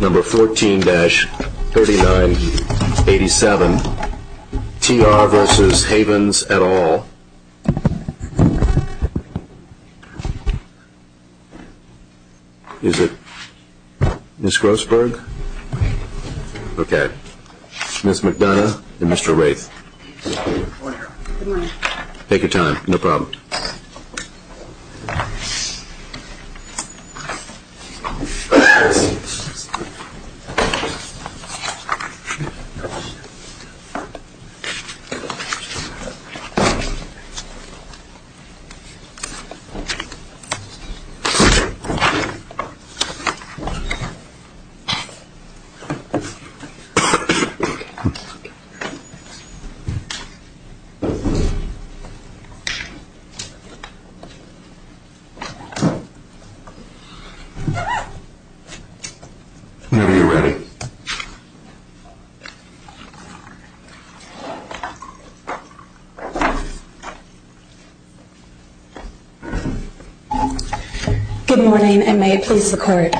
Number 14-3987 T.R. v. Havens, et.al Is it Ms. Grossberg? Okay. Ms. McDonough and Mr. Wraith. Take your time. No problem. Okay. Okay. Whenever you're ready. Good morning and may it please the court.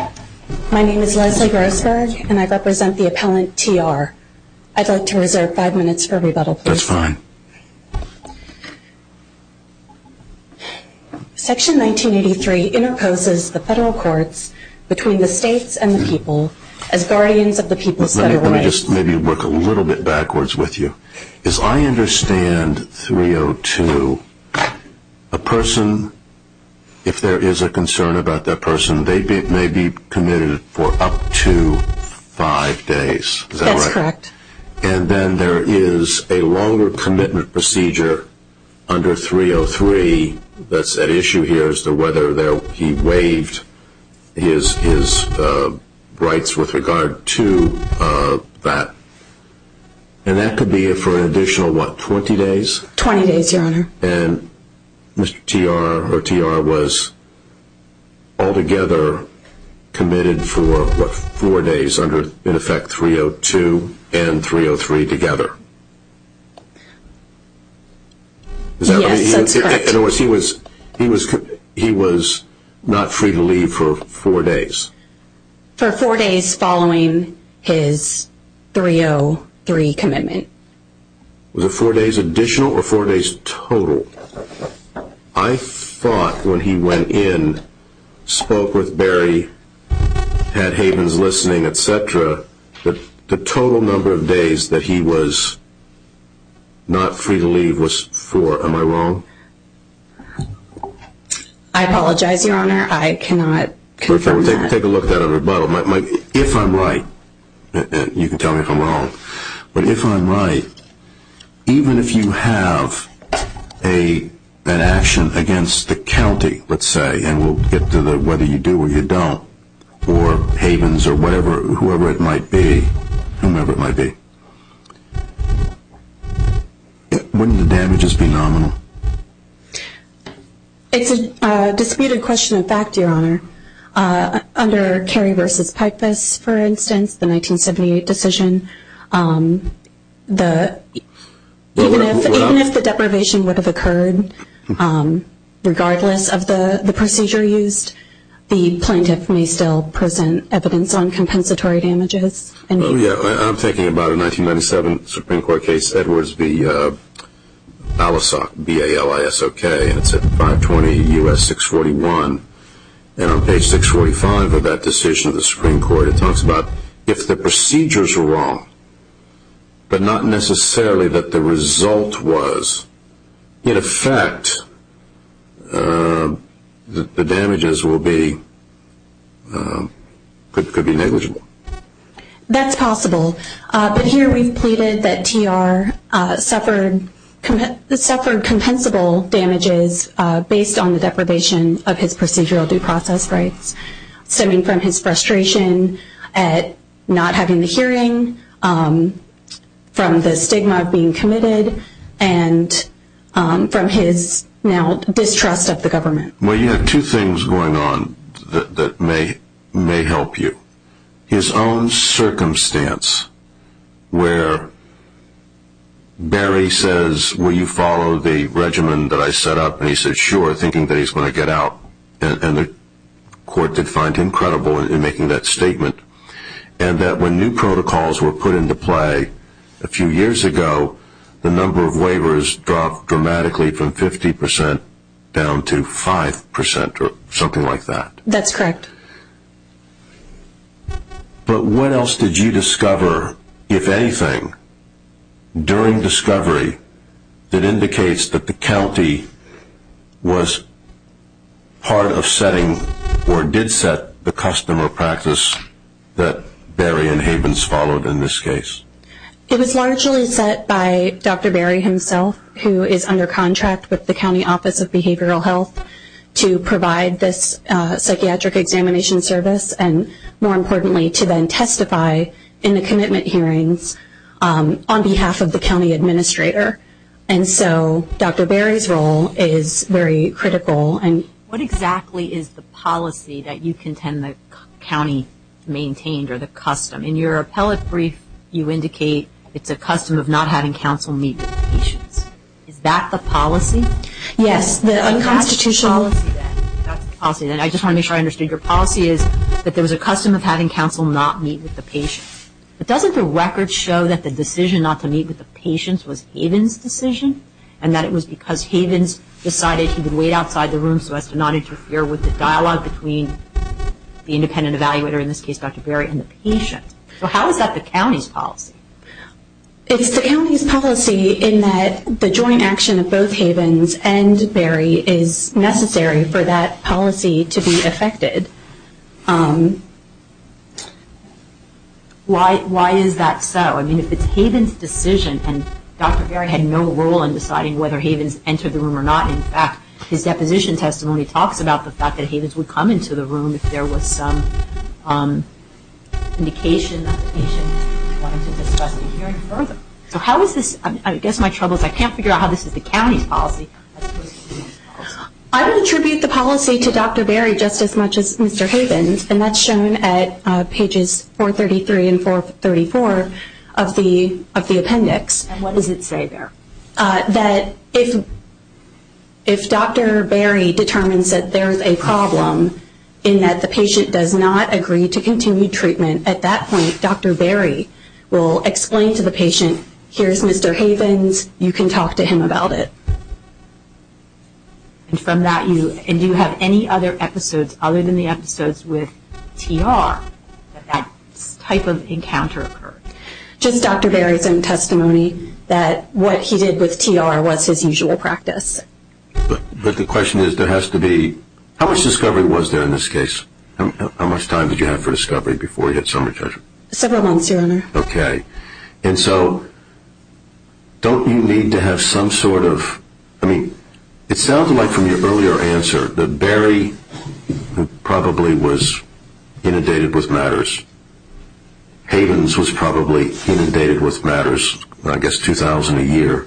My name is Leslie Grossberg and I represent the appellant T.R. I'd like to reserve five minutes for rebuttal, please. That's fine. Section 1983 interposes the federal courts between the states and the people as guardians of the people's federal rights. Let me just maybe work a little bit backwards with you. As I understand 302, a person, if there is a concern about that person, they may be committed for up to five days. Is that right? That's correct. And then there is a longer commitment procedure under 303 that's at issue here as to whether he waived his rights with regard to that. And that could be for an additional, what, 20 days? And Mr. T.R. or T.R. was altogether committed for, what, four days under, in effect, 302 and 303 together? Yes, that's correct. In other words, he was not free to leave for four days? For four days following his 303 commitment. Was it four days additional or four days total? I thought when he went in, spoke with Barry, had Havens listening, et cetera, that the total number of days that he was not free to leave was four. Am I wrong? I apologize, Your Honor. I cannot confirm that. Take a look at that on rebuttal. If I'm right, and you can tell me if I'm wrong, but if I'm right, even if you have an action against the county, let's say, and we'll get to whether you do or you don't, or Havens or whoever it might be, whomever it might be, wouldn't the damages be nominal? It's a disputed question of fact, Your Honor. Under Cary v. Pipus, for instance, the 1978 decision, even if the deprivation would have occurred, regardless of the procedure used, the plaintiff may still present evidence on compensatory damages. I'm thinking about a 1997 Supreme Court case, Edwards v. Allisock, B-A-L-I-S-O-K, and it's at 520 U.S. 641. And on page 645 of that decision of the Supreme Court, it talks about if the procedures were wrong, but not necessarily that the result was. In effect, the damages could be negligible. That's possible. But here we've pleaded that TR suffered compensable damages based on the deprivation of his procedural due process rights, stemming from his frustration at not having the hearing, from the stigma of being committed, and from his now distrust of the government. Well, you have two things going on that may help you. His own circumstance where Barry says, will you follow the regimen that I set up? And he said, sure, thinking that he's going to get out. And the court did find him credible in making that statement. And that when new protocols were put into play a few years ago, the number of waivers dropped dramatically from 50% down to 5%, or something like that. That's correct. But what else did you discover, if anything, during discovery that indicates that the county was part of setting, or did set, the custom or practice that Barry and Havens followed in this case? It was largely set by Dr. Barry himself, who is under contract with the County Office of Behavioral Health to provide this psychiatric examination service and, more importantly, to then testify in the commitment hearings on behalf of the county administrator. And so Dr. Barry's role is very critical. What exactly is the policy that you contend the county maintained, or the custom? In your appellate brief, you indicate it's a custom of not having counsel meet with the patients. Is that the policy? Yes, the unconstitutional... I just want to make sure I understood. Your policy is that there was a custom of having counsel not meet with the patients. But doesn't the record show that the decision not to meet with the patients was Havens' decision, and that it was because Havens decided he would wait outside the room so as to not interfere with the dialogue between the independent evaluator, in this case Dr. Barry, and the patient? So how is that the county's policy? It's the county's policy in that the joint action of both Havens and Barry is necessary for that policy to be effected. Why is that so? I mean, if it's Havens' decision, and Dr. Barry had no role in deciding whether Havens entered the room or not. In fact, his deposition testimony talks about the fact that Havens would come into the room if there was some indication that the patient wanted to discuss the hearing further. So how is this? I guess my trouble is I can't figure out how this is the county's policy. I would attribute the policy to Dr. Barry just as much as Mr. Havens, and that's shown at pages 433 and 434 of the appendix. And what does it say there? That if Dr. Barry determines that there is a problem, in that the patient does not agree to continue treatment, at that point Dr. Barry will explain to the patient, here's Mr. Havens, you can talk to him about it. And from that, do you have any other episodes, other than the episodes with TR, that that type of encounter occurred? Just Dr. Barry's own testimony that what he did with TR was his usual practice. But the question is, there has to be, how much discovery was there in this case? How much time did you have for discovery before you had summary judgment? Several months, Your Honor. Okay. And so don't you need to have some sort of, I mean, it sounds like from your earlier answer that Barry probably was inundated with matters. Havens was probably inundated with matters, I guess 2,000 a year.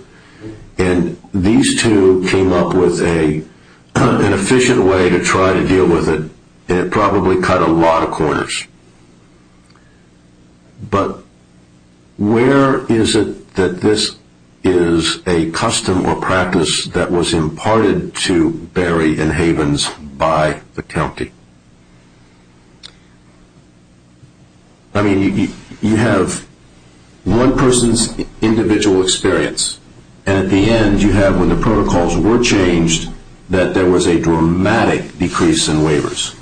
And these two came up with an efficient way to try to deal with it, and it probably cut a lot of corners. But where is it that this is a custom or practice that was imparted to Barry and Havens by the county? I mean, you have one person's individual experience, and at the end you have, when the protocols were changed, that there was a dramatic decrease in waivers.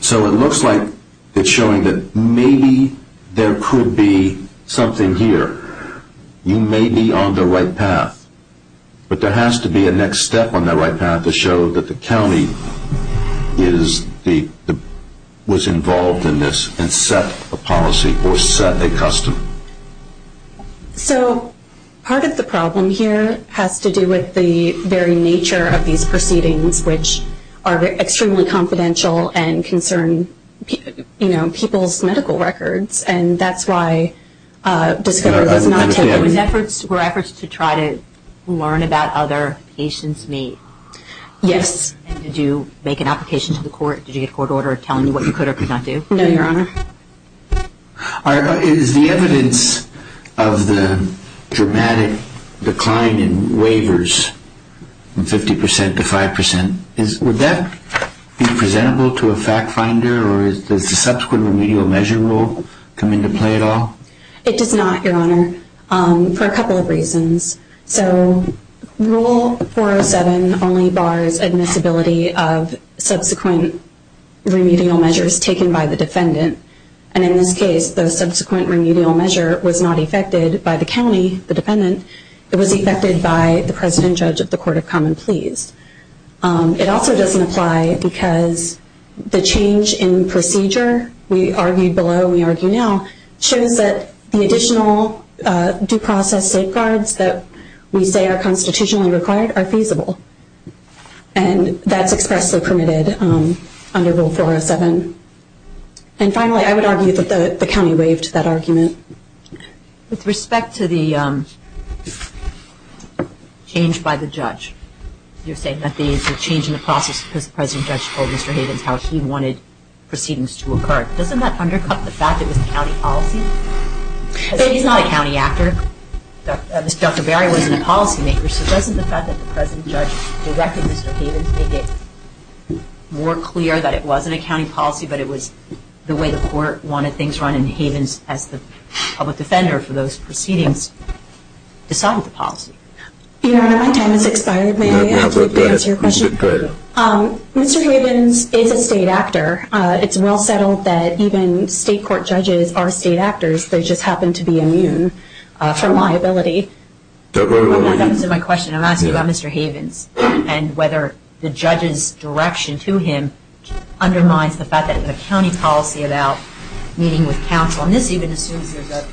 So it looks like it's showing that maybe there could be something here. You may be on the right path, but there has to be a next step on the right path to show that the county was involved in this and set a policy or set a custom. So part of the problem here has to do with the very nature of these proceedings, which are extremely confidential and concern people's medical records, and that's why discovery was not taken. So were efforts to try to learn about other patients made? Yes. Did you make an application to the court? Did you get a court order telling you what you could or could not do? No, Your Honor. Is the evidence of the dramatic decline in waivers from 50 percent to 5 percent, would that be presentable to a fact finder, or does the subsequent remedial measure rule come into play at all? It does not, Your Honor, for a couple of reasons. So Rule 407 only bars admissibility of subsequent remedial measures taken by the defendant. And in this case, the subsequent remedial measure was not effected by the county, the defendant. It was effected by the President Judge of the Court of Common Pleas. It also doesn't apply because the change in procedure, we argued below and we argue now, shows that the additional due process safeguards that we say are constitutionally required are feasible, and that's expressly permitted under Rule 407. And finally, I would argue that the county waived that argument. With respect to the change by the judge, you're saying that the change in the process because the President Judge told Mr. Havens how he wanted proceedings to occur, doesn't that undercut the fact that it was a county policy? He's not a county actor. Dr. Berry wasn't a policymaker. So doesn't the fact that the President Judge directed Mr. Havens make it more clear that it wasn't a county policy, but it was the way the court wanted things run, and Havens, as the public defender for those proceedings, decided the policy? Your Honor, my time has expired. May I answer your question? Go ahead. Mr. Havens is a state actor. It's well settled that even state court judges are state actors. They just happen to be immune from liability. That was my question. I'm asking about Mr. Havens and whether the judge's direction to him undermines the fact that the county policy about meeting with counsel, and this even assumes there's a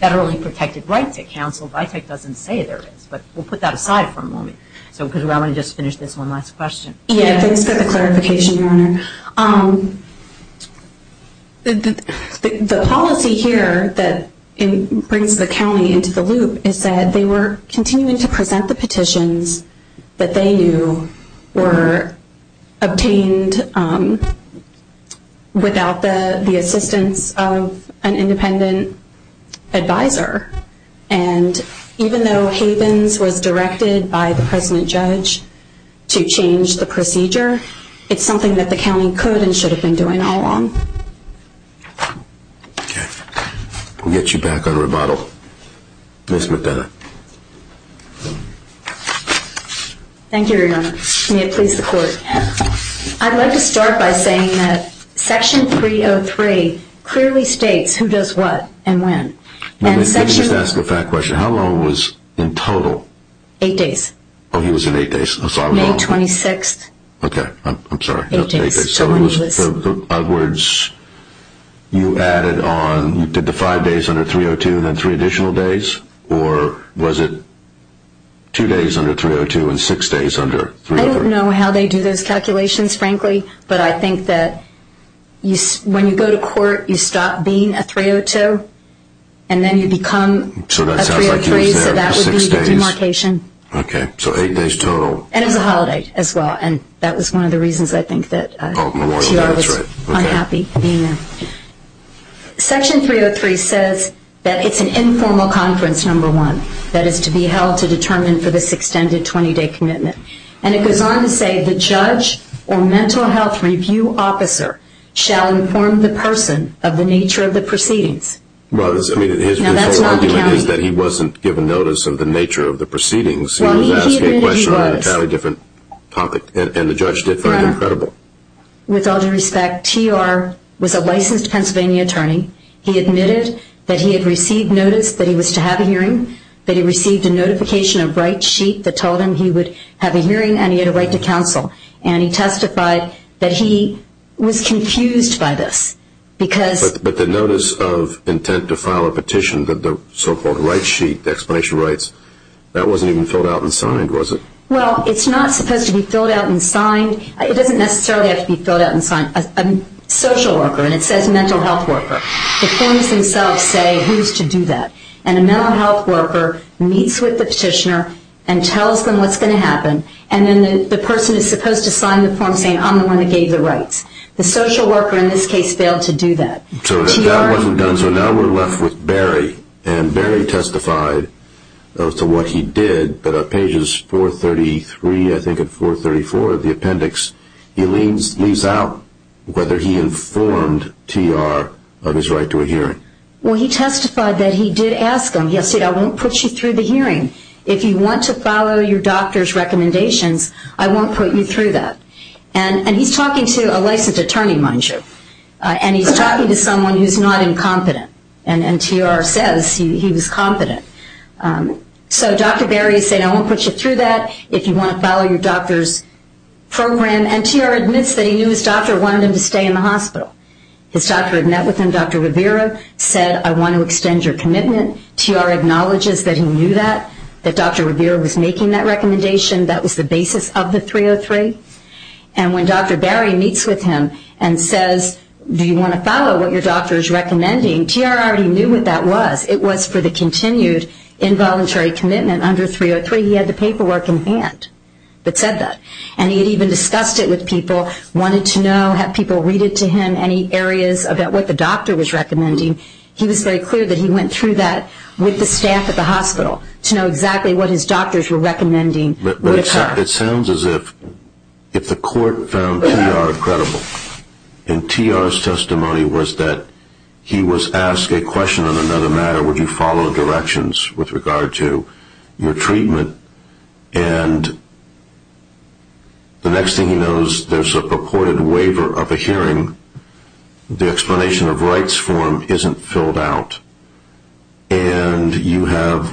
federally protected right to counsel. VITEC doesn't say there is, but we'll put that aside for a moment. I want to just finish this one last question. Thanks for the clarification, Your Honor. The policy here that brings the county into the loop is that they were continuing to present the petitions that they knew were obtained without the assistance of an independent advisor, and even though Havens was directed by the President Judge to change the procedure, it's something that the county could and should have been doing all along. Okay. We'll get you back on rebuttal. Ms. McDonough. Thank you, Your Honor. May it please the Court. I'd like to start by saying that Section 303 clearly states who does what and when. Let me just ask a fact question. How long was in total? Eight days. Oh, he was in eight days. May 26th. Okay. I'm sorry. Eight days. So in other words, you added on, you did the five days under 302 and then three additional days, or was it two days under 302 and six days under 302? I don't know how they do those calculations, frankly, but I think that when you go to court you stop being a 302 and then you become a 303. So that sounds like you were there for six days. So that would be a demarcation. Okay. So eight days total. And it was a holiday as well, and that was one of the reasons I think that T.R. was unhappy being there. Section 303 says that it's an informal conference, number one, that is to be held to determine for this extended 20-day commitment. And it goes on to say the judge or mental health review officer shall inform the person of the nature of the proceedings. Well, his complaint is that he wasn't given notice of the nature of the proceedings. He was asking a question on a totally different topic, and the judge did find him credible. With all due respect, T.R. was a licensed Pennsylvania attorney. He admitted that he had received notice that he was to have a hearing, that he received a notification of right sheet that told him he would have a hearing and he had a right to counsel, and he testified that he was confused by this because – But the notice of intent to file a petition, the so-called right sheet, the explanation of rights, that wasn't even filled out and signed, was it? Well, it's not supposed to be filled out and signed. It doesn't necessarily have to be filled out and signed. A social worker, and it says mental health worker, the forms themselves say who's to do that. And a mental health worker meets with the petitioner and tells them what's going to happen, and then the person is supposed to sign the form saying, I'm the one that gave the rights. The social worker in this case failed to do that. So now we're left with Barry, and Barry testified as to what he did, but on pages 433, I think, and 434 of the appendix, he leaves out whether he informed T.R. of his right to a hearing. Well, he testified that he did ask him, he said, I won't put you through the hearing. If you want to follow your doctor's recommendations, I won't put you through that. And he's talking to a licensed attorney, mind you, and he's talking to someone who's not incompetent, and T.R. says he was competent. So Dr. Barry is saying, I won't put you through that. If you want to follow your doctor's program, and T.R. admits that he knew his doctor wanted him to stay in the hospital. His doctor had met with him, Dr. Rivera, said, I want to extend your commitment. T.R. acknowledges that he knew that, that Dr. Rivera was making that recommendation. That was the basis of the 303. And when Dr. Barry meets with him and says, do you want to follow what your doctor is recommending, T.R. already knew what that was. It was for the continued involuntary commitment under 303. He had the paperwork in hand that said that. And he had even discussed it with people, wanted to know, had people read it to him, any areas about what the doctor was recommending. He was very clear that he went through that with the staff at the hospital to know exactly what his doctors were recommending would occur. It sounds as if the court found T.R. credible. And T.R.'s testimony was that he was asked a question on another matter, would you follow directions with regard to your treatment? And the next thing he knows, there's a purported waiver of a hearing. The explanation of rights for him isn't filled out. And you have,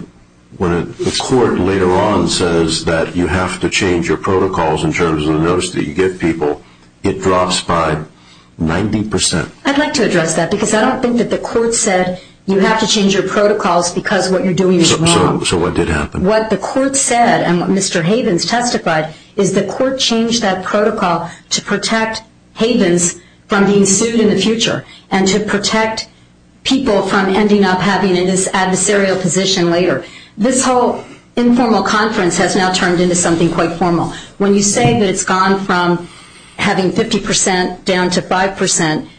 when the court later on says that you have to change your protocols in terms of the notice that you give people, it drops by 90%. I'd like to address that because I don't think that the court said you have to change your protocols because what you're doing is wrong. So what did happen? What the court said, and what Mr. Havens testified, is the court changed that protocol to protect Havens from being sued in the future and to protect people from ending up having this adversarial position later. This whole informal conference has now turned into something quite formal. When you say that it's gone from having 50% down to 5%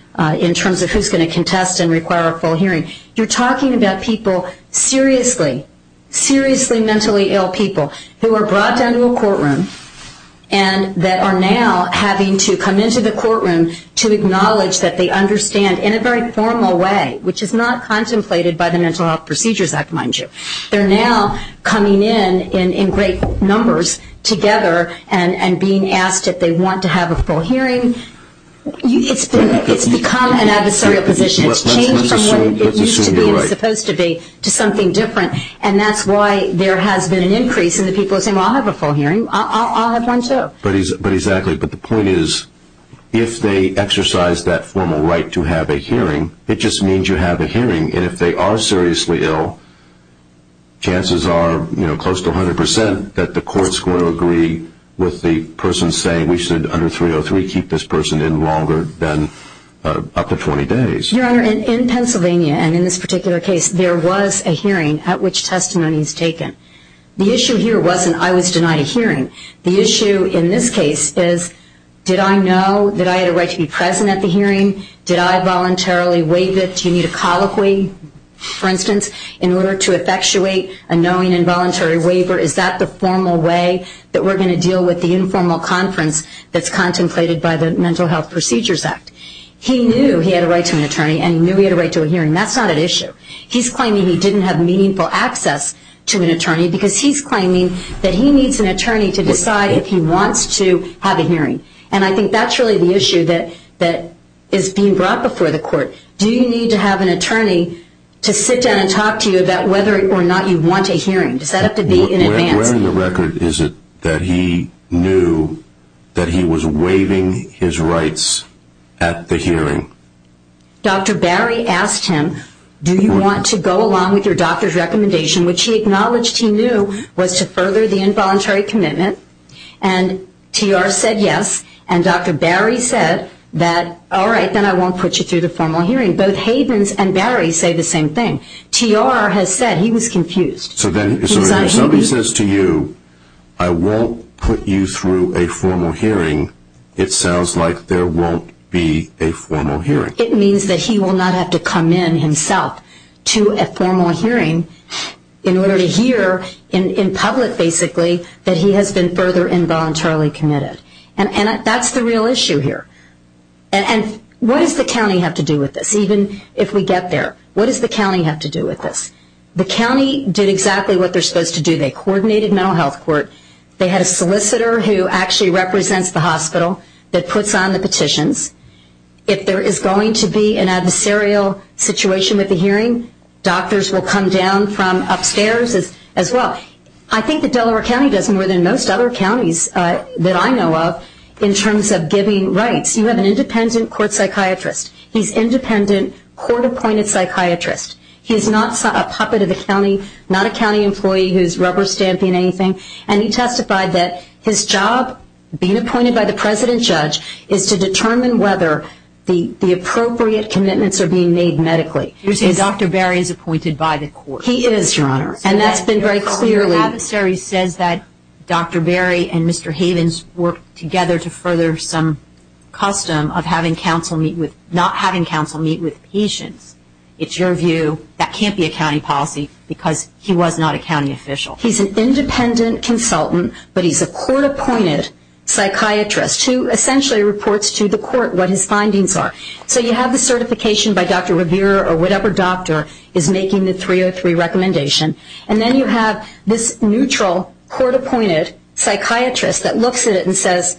in terms of who's going to contest and require a full hearing, you're talking about people seriously, seriously mentally ill people who are brought down to a courtroom and that are now having to come into the courtroom to acknowledge that they understand in a very formal way, which is not contemplated by the Mental Health Procedures Act, mind you. They're now coming in in great numbers together and being asked if they want to have a full hearing. It's become an adversarial position. It's changed from what it used to be and is supposed to be to something different. And that's why there has been an increase in the people saying, well, I'll have a full hearing, I'll have one too. But the point is, if they exercise that formal right to have a hearing, it just means you have a hearing. And if they are seriously ill, chances are close to 100% that the courts will agree with the person saying we should, under 303, keep this person in longer than up to 20 days. Your Honor, in Pennsylvania, and in this particular case, there was a hearing at which testimony was taken. The issue here wasn't I was denied a hearing. The issue in this case is, did I know that I had a right to be present at the hearing? Did I voluntarily waive it? Do you need a colloquy, for instance, in order to effectuate a knowing and voluntary waiver? Is that the formal way that we're going to deal with the informal conference that's contemplated by the Mental Health Procedures Act? He knew he had a right to an attorney and he knew he had a right to a hearing. That's not at issue. He's claiming he didn't have meaningful access to an attorney because he's claiming that he needs an attorney to decide if he wants to have a hearing. And I think that's really the issue that is being brought before the court. Do you need to have an attorney to sit down and talk to you about whether or not you want a hearing? Does that have to be in advance? Where in the record is it that he knew that he was waiving his rights at the hearing? Dr. Barry asked him, do you want to go along with your doctor's recommendation, which he acknowledged he knew was to further the involuntary commitment, and TR said yes, and Dr. Barry said, all right, then I won't put you through the formal hearing. Both Havens and Barry say the same thing. TR has said he was confused. So if somebody says to you, I won't put you through a formal hearing, it sounds like there won't be a formal hearing. It means that he will not have to come in himself to a formal hearing in order to hear in public basically that he has been further involuntarily committed. And that's the real issue here. And what does the county have to do with this? Even if we get there, what does the county have to do with this? The county did exactly what they're supposed to do. They coordinated mental health court. They had a solicitor who actually represents the hospital that puts on the petitions. If there is going to be an adversarial situation with the hearing, doctors will come down from upstairs as well. I think that Delaware County does more than most other counties that I know of in terms of giving rights. You have an independent court psychiatrist. He's an independent court-appointed psychiatrist. He's not a puppet of the county, not a county employee who's rubber-stamping anything, and he testified that his job, being appointed by the president judge, is to determine whether the appropriate commitments are being made medically. You're saying Dr. Berry is appointed by the court? He is, Your Honor. And that's been very clear. Your adversary says that Dr. Berry and Mr. Havens worked together to further some custom of not having counsel meet with patients. It's your view that can't be a county policy because he was not a county official. He's an independent consultant, but he's a court-appointed psychiatrist who essentially reports to the court what his findings are. So you have the certification by Dr. Revere or whatever doctor is making the 303 recommendation, and then you have this neutral court-appointed psychiatrist that looks at it and says,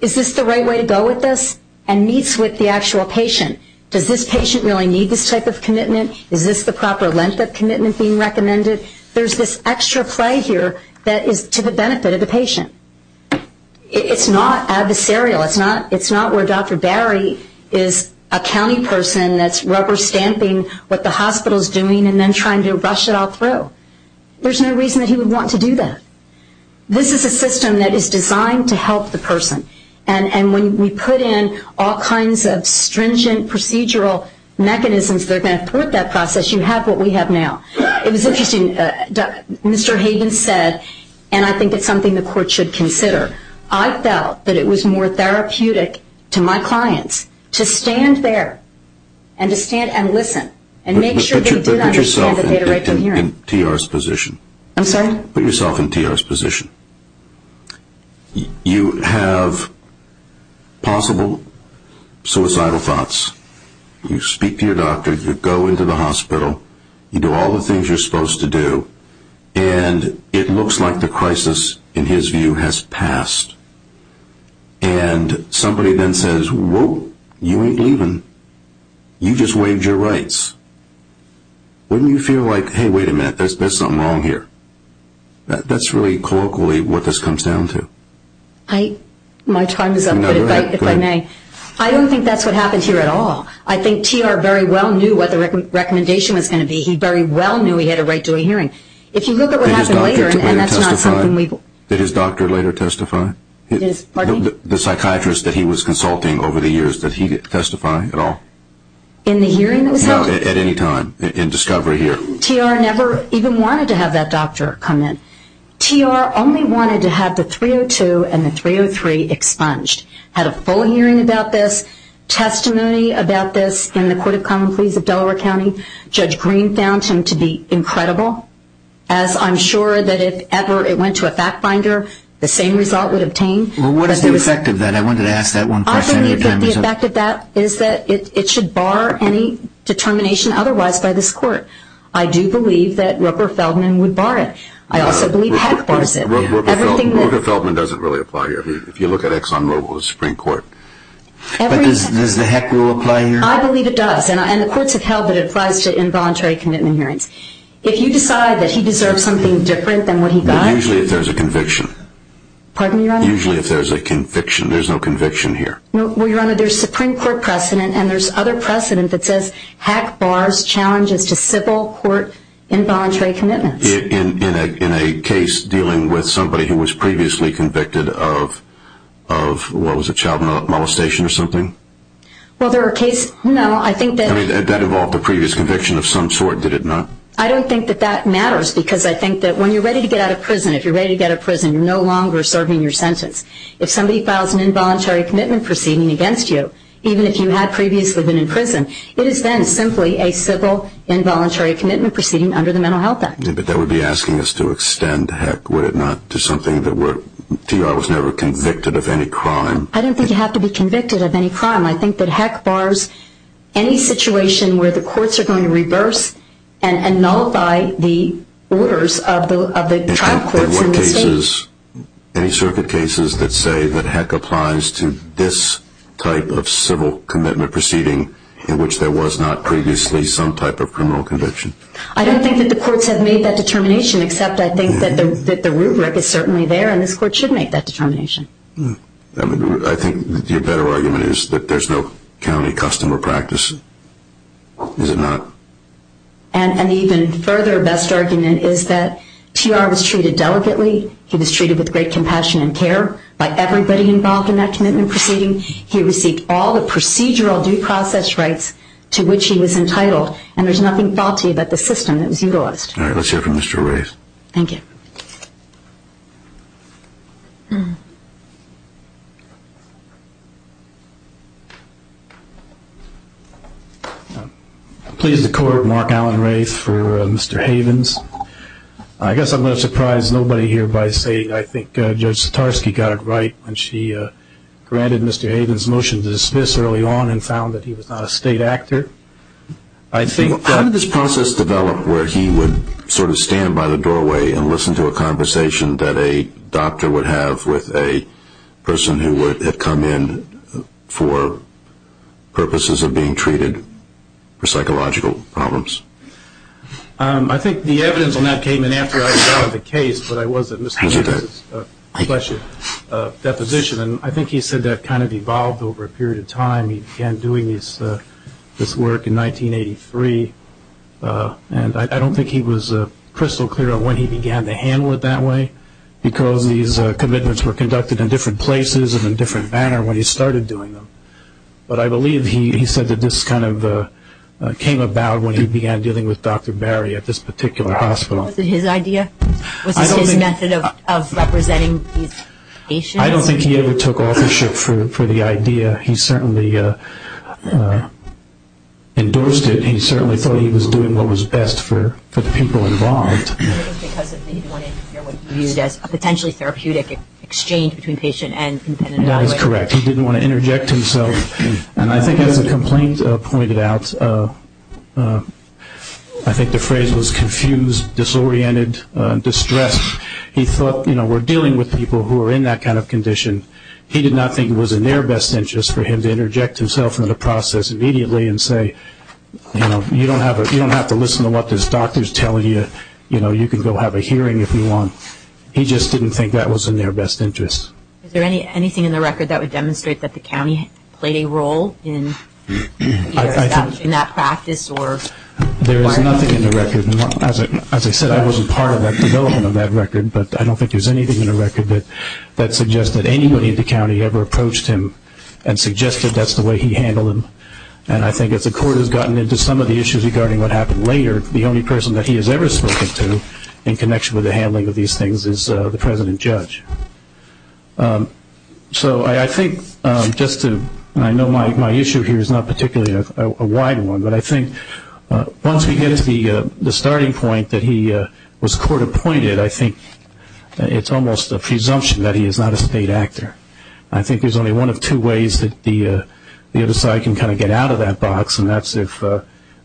is this the right way to go with this? And meets with the actual patient. Does this patient really need this type of commitment? Is this the proper length of commitment being recommended? There's this extra play here that is to the benefit of the patient. It's not adversarial. It's not where Dr. Berry is a county person that's rubber stamping what the hospital is doing and then trying to rush it all through. There's no reason that he would want to do that. This is a system that is designed to help the person, and when we put in all kinds of stringent procedural mechanisms that are going to put that process, you have what we have now. It was interesting. Mr. Havens said, and I think it's something the court should consider, I felt that it was more therapeutic to my clients to stand there and listen and make sure they did understand that they had a right to a hearing. Put yourself in TR's position. I'm sorry? Put yourself in TR's position. You have possible suicidal thoughts. You speak to your doctor. You go into the hospital. You do all the things you're supposed to do, and it looks like the crisis, in his view, has passed. And somebody then says, whoa, you ain't leaving. You just waived your rights. Wouldn't you feel like, hey, wait a minute, there's something wrong here? That's really colloquially what this comes down to. My time is up, but if I may, I don't think that's what happened here at all. I think TR very well knew what the recommendation was going to be. He very well knew he had a right to a hearing. Did his doctor later testify? The psychiatrist that he was consulting over the years, did he testify at all? In the hearing that was held? No, at any time, in discovery here. TR never even wanted to have that doctor come in. TR only wanted to have the 302 and the 303 expunged, had a full hearing about this, testimony about this in the Court of Common Pleas of Delaware County. Judge Green found him to be incredible, as I'm sure that if ever it went to a fact finder, the same result would obtain. What is the effect of that? I wanted to ask that one question. I think the effect of that is that it should bar any determination otherwise by this court. I do believe that Rupert Feldman would bar it. I also believe Heck bars it. Rupert Feldman doesn't really apply here, if you look at Exxon Mobil's Supreme Court. But does the Heck rule apply here? I believe it does, and the courts have held that it applies to involuntary commitment hearings. If you decide that he deserves something different than what he got. But usually if there's a conviction. Pardon me, Your Honor? Usually if there's a conviction. There's no conviction here. Well, Your Honor, there's Supreme Court precedent, and there's other precedent that says Heck bars challenges to civil court involuntary commitments. In a case dealing with somebody who was previously convicted of, what was it, child molestation or something? Well, there are cases, no, I think that... That involved a previous conviction of some sort, did it not? I don't think that that matters because I think that when you're ready to get out of prison, if you're ready to get out of prison, you're no longer serving your sentence. If somebody files an involuntary commitment proceeding against you, even if you had previously been in prison, it is then simply a civil involuntary commitment proceeding under the Mental Health Act. But that would be asking us to extend Heck, would it not, to something that we're... To you, I was never convicted of any crime. I don't think you have to be convicted of any crime. I think that Heck bars any situation where the courts are going to reverse and nullify the orders of the trial courts in this case. In what cases? Any circuit cases that say that Heck applies to this type of civil commitment proceeding in which there was not previously some type of criminal conviction? I don't think that the courts have made that determination, except I think that the rubric is certainly there, and this court should make that determination. I think your better argument is that there's no county custom or practice, is it not? An even further best argument is that TR was treated delicately. He was treated with great compassion and care by everybody involved in that commitment proceeding. He received all the procedural due process rights to which he was entitled, and there's nothing faulty about the system that was utilized. All right, let's hear from Mr. Raith. Thank you. I'm pleased to court Mark Allen Raith for Mr. Havens. I guess I'm going to surprise nobody here by saying I think Judge Satarsky got it right when she granted Mr. Havens' motion to dismiss early on and found that he was not a state actor. How did this process develop where he would sort of stand by the doorway and listen to a conversation that a doctor would have with a person who would have come in for purposes of being treated for psychological problems? I think the evidence on that came in after I filed the case, but I was at Mr. Havens' deposition, and I think he said that kind of evolved over a period of time. He began doing this work in 1983, and I don't think he was crystal clear on when he began to handle it that way because these commitments were conducted in different places and in a different manner when he started doing them. But I believe he said that this kind of came about when he began dealing with Dr. Barry at this particular hospital. Was it his idea? Was this his method of representing these patients? I don't think he ever took authorship for the idea. He certainly endorsed it. He certainly thought he was doing what was best for the people involved. Was it because he didn't want to interfere with what he viewed as a potentially therapeutic exchange between patient and an evaluator? That is correct. He didn't want to interject himself. And I think as the complaint pointed out, I think the phrase was confused, disoriented, distressed. He thought, you know, we're dealing with people who are in that kind of condition. He did not think it was in their best interest for him to interject himself in the process immediately and say, you know, you don't have to listen to what this doctor is telling you. You know, you can go have a hearing if you want. He just didn't think that was in their best interest. Is there anything in the record that would demonstrate that the county played a role in either establishing that practice? There is nothing in the record. As I said, I wasn't part of the development of that record, but I don't think there's anything in the record that suggests that anybody in the county ever approached him and suggested that's the way he handled him. And I think as the court has gotten into some of the issues regarding what happened later, the only person that he has ever spoken to in connection with the handling of these things is the president judge. So I think just to, and I know my issue here is not particularly a wide one, but I think once we get to the starting point that he was court appointed, I think it's almost a presumption that he is not a state actor. I think there's only one of two ways that the other side can kind of get out of that box, and that's if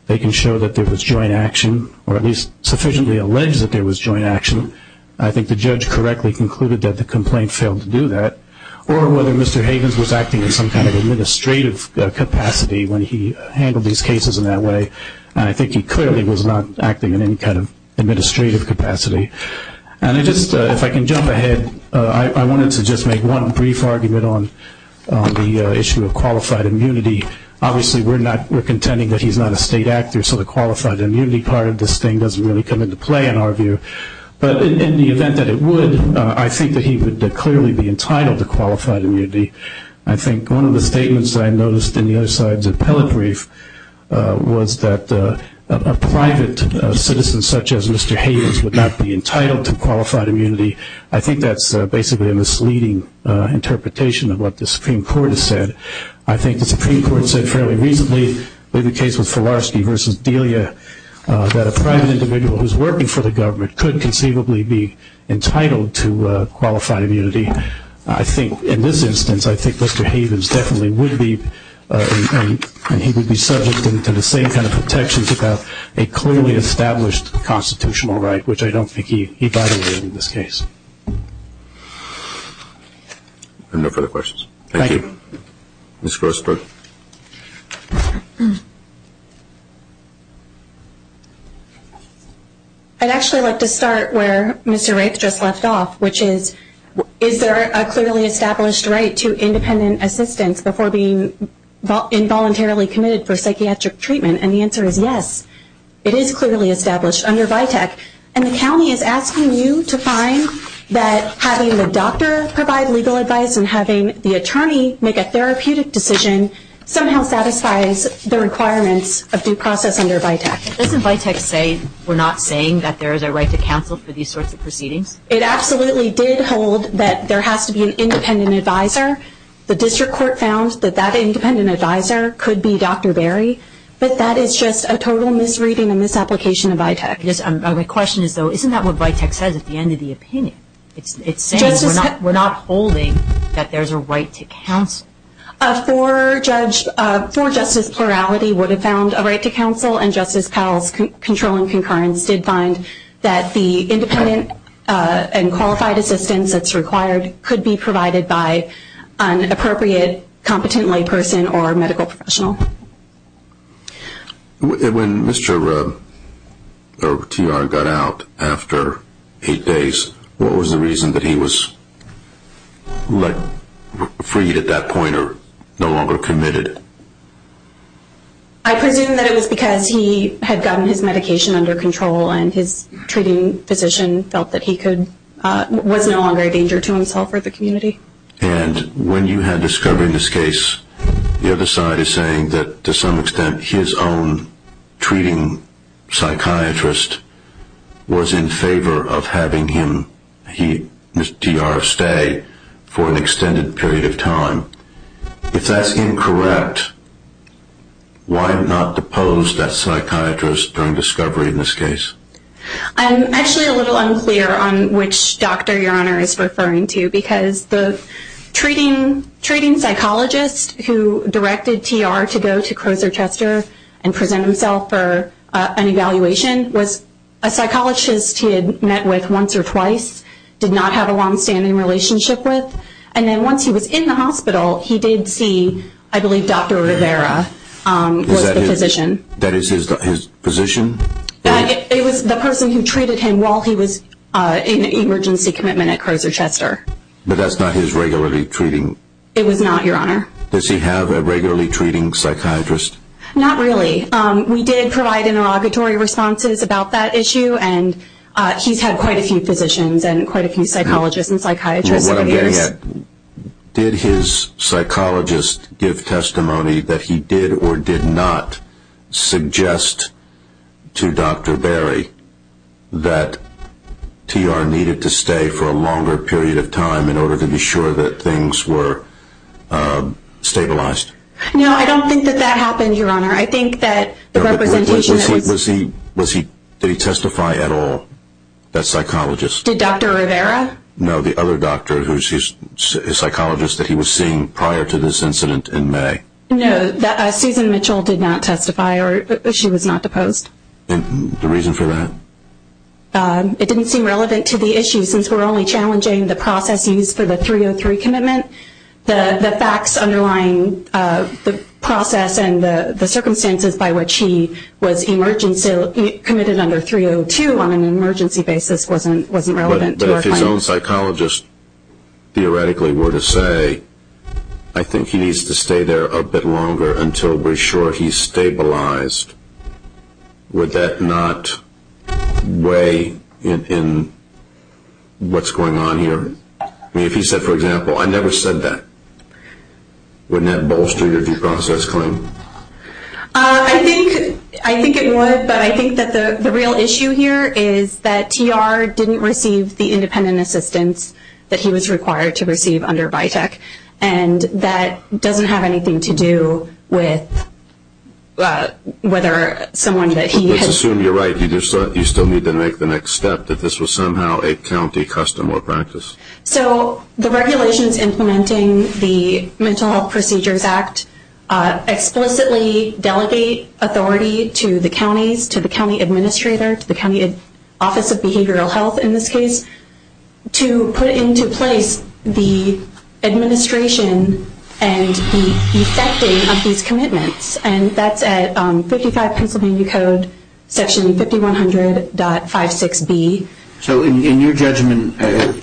they can show that there was joint action or at least sufficiently allege that there was joint action. I think the judge correctly concluded that the complaint failed to do that, or whether Mr. Havens was acting in some kind of administrative capacity when he handled these cases in that way, and I think he clearly was not acting in any kind of administrative capacity. And if I can jump ahead, I wanted to just make one brief argument on the issue of qualified immunity. Obviously we're contending that he's not a state actor, so the qualified immunity part of this thing doesn't really come into play in our view. But in the event that it would, I think that he would clearly be entitled to qualified immunity. I think one of the statements I noticed in the other side's appellate brief was that a private citizen such as Mr. Havens would not be entitled to qualified immunity. I think that's basically a misleading interpretation of what the Supreme Court has said. I think the Supreme Court said fairly recently in the case of Filarski v. Delia that a private individual who's working for the government could conceivably be entitled to qualified immunity. I think in this instance, I think Mr. Havens definitely would be, and he would be subject to the same kind of protections about a clearly established constitutional right, which I don't think he violated in this case. I have no further questions. Thank you. Thank you. Ms. Grossberg. Thank you. I'd actually like to start where Mr. Raith just left off, which is is there a clearly established right to independent assistance before being involuntarily committed for psychiatric treatment? And the answer is yes. It is clearly established under VITAC, and the county is asking you to find that having the doctor provide legal advice and having the attorney make a therapeutic decision somehow satisfies the requirements of due process under VITAC. Doesn't VITAC say we're not saying that there is a right to counsel for these sorts of proceedings? It absolutely did hold that there has to be an independent advisor. The district court found that that independent advisor could be Dr. Berry, but that is just a total misreading and misapplication of VITAC. My question is, though, isn't that what VITAC says at the end of the opinion? It's saying we're not holding that there's a right to counsel. For justice plurality would have found a right to counsel, and Justice Powell's controlling concurrence did find that the independent and qualified assistance that's required could be provided by an appropriate, competent layperson or medical professional. When Mr. T.R. got out after eight days, what was the reason that he was freed at that point or no longer committed? I presume that it was because he had gotten his medication under control and his treating physician felt that he was no longer a danger to himself or the community. And when you had discovery in this case, the other side is saying that to some extent his own treating psychiatrist was in favor of having him, Mr. T.R., stay for an extended period of time. If that's incorrect, why not depose that psychiatrist during discovery in this case? I'm actually a little unclear on which doctor Your Honor is referring to because the treating psychologist who directed T.R. to go to Crozer Chester and present himself for an evaluation was a psychologist he had met with once or twice, did not have a longstanding relationship with, and then once he was in the hospital, he did see, I believe, Dr. Rivera was the physician. That is his physician? It was the person who treated him while he was in emergency commitment at Crozer Chester. But that's not his regularly treating? It was not, Your Honor. Does he have a regularly treating psychiatrist? Not really. We did provide interrogatory responses about that issue, and he's had quite a few physicians and quite a few psychologists and psychiatrists over the years. Did his psychologist give testimony that he did or did not suggest to Dr. Berry that T.R. needed to stay for a longer period of time in order to be sure that things were stabilized? No, I don't think that that happened, Your Honor. I think that the representation that was... Did he testify at all, that psychologist? Did Dr. Rivera? No, the other doctor, his psychologist that he was seeing prior to this incident in May. No, Susan Mitchell did not testify, or she was not deposed. The reason for that? It didn't seem relevant to the issue, since we're only challenging the process used for the 303 commitment. The facts underlying the process and the circumstances by which he was committed under 302 on an emergency basis wasn't relevant to our findings. If his own psychologist theoretically were to say, I think he needs to stay there a bit longer until we're sure he's stabilized, would that not weigh in what's going on here? I mean, if he said, for example, I never said that, wouldn't that bolster your due process claim? I think it would, but I think that the real issue here is that TR didn't receive the independent assistance that he was required to receive under VITEC, and that doesn't have anything to do with whether someone that he had... Let's assume you're right. You still need to make the next step that this was somehow a county custom or practice. So the regulations implementing the Mental Health Procedures Act explicitly delegate authority to the counties, to the county administrator, to the office of behavioral health in this case, to put into place the administration and the effecting of these commitments, and that's at 55 Pennsylvania Code, section 5100.56B. So in your judgment,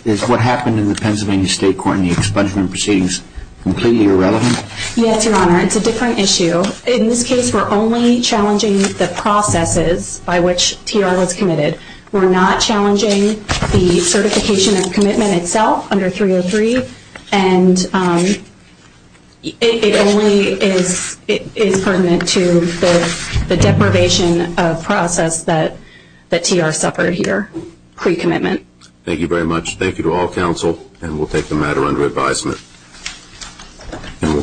is what happened in the Pennsylvania State Court and the expungement proceedings completely irrelevant? Yes, Your Honor. It's a different issue. In this case, we're only challenging the processes by which TR was committed. We're not challenging the certification of commitment itself under 303, and it only is pertinent to the deprivation of process that TR suffered here pre-commitment. Thank you very much. Thank you to all counsel, and we'll take the matter under advisement.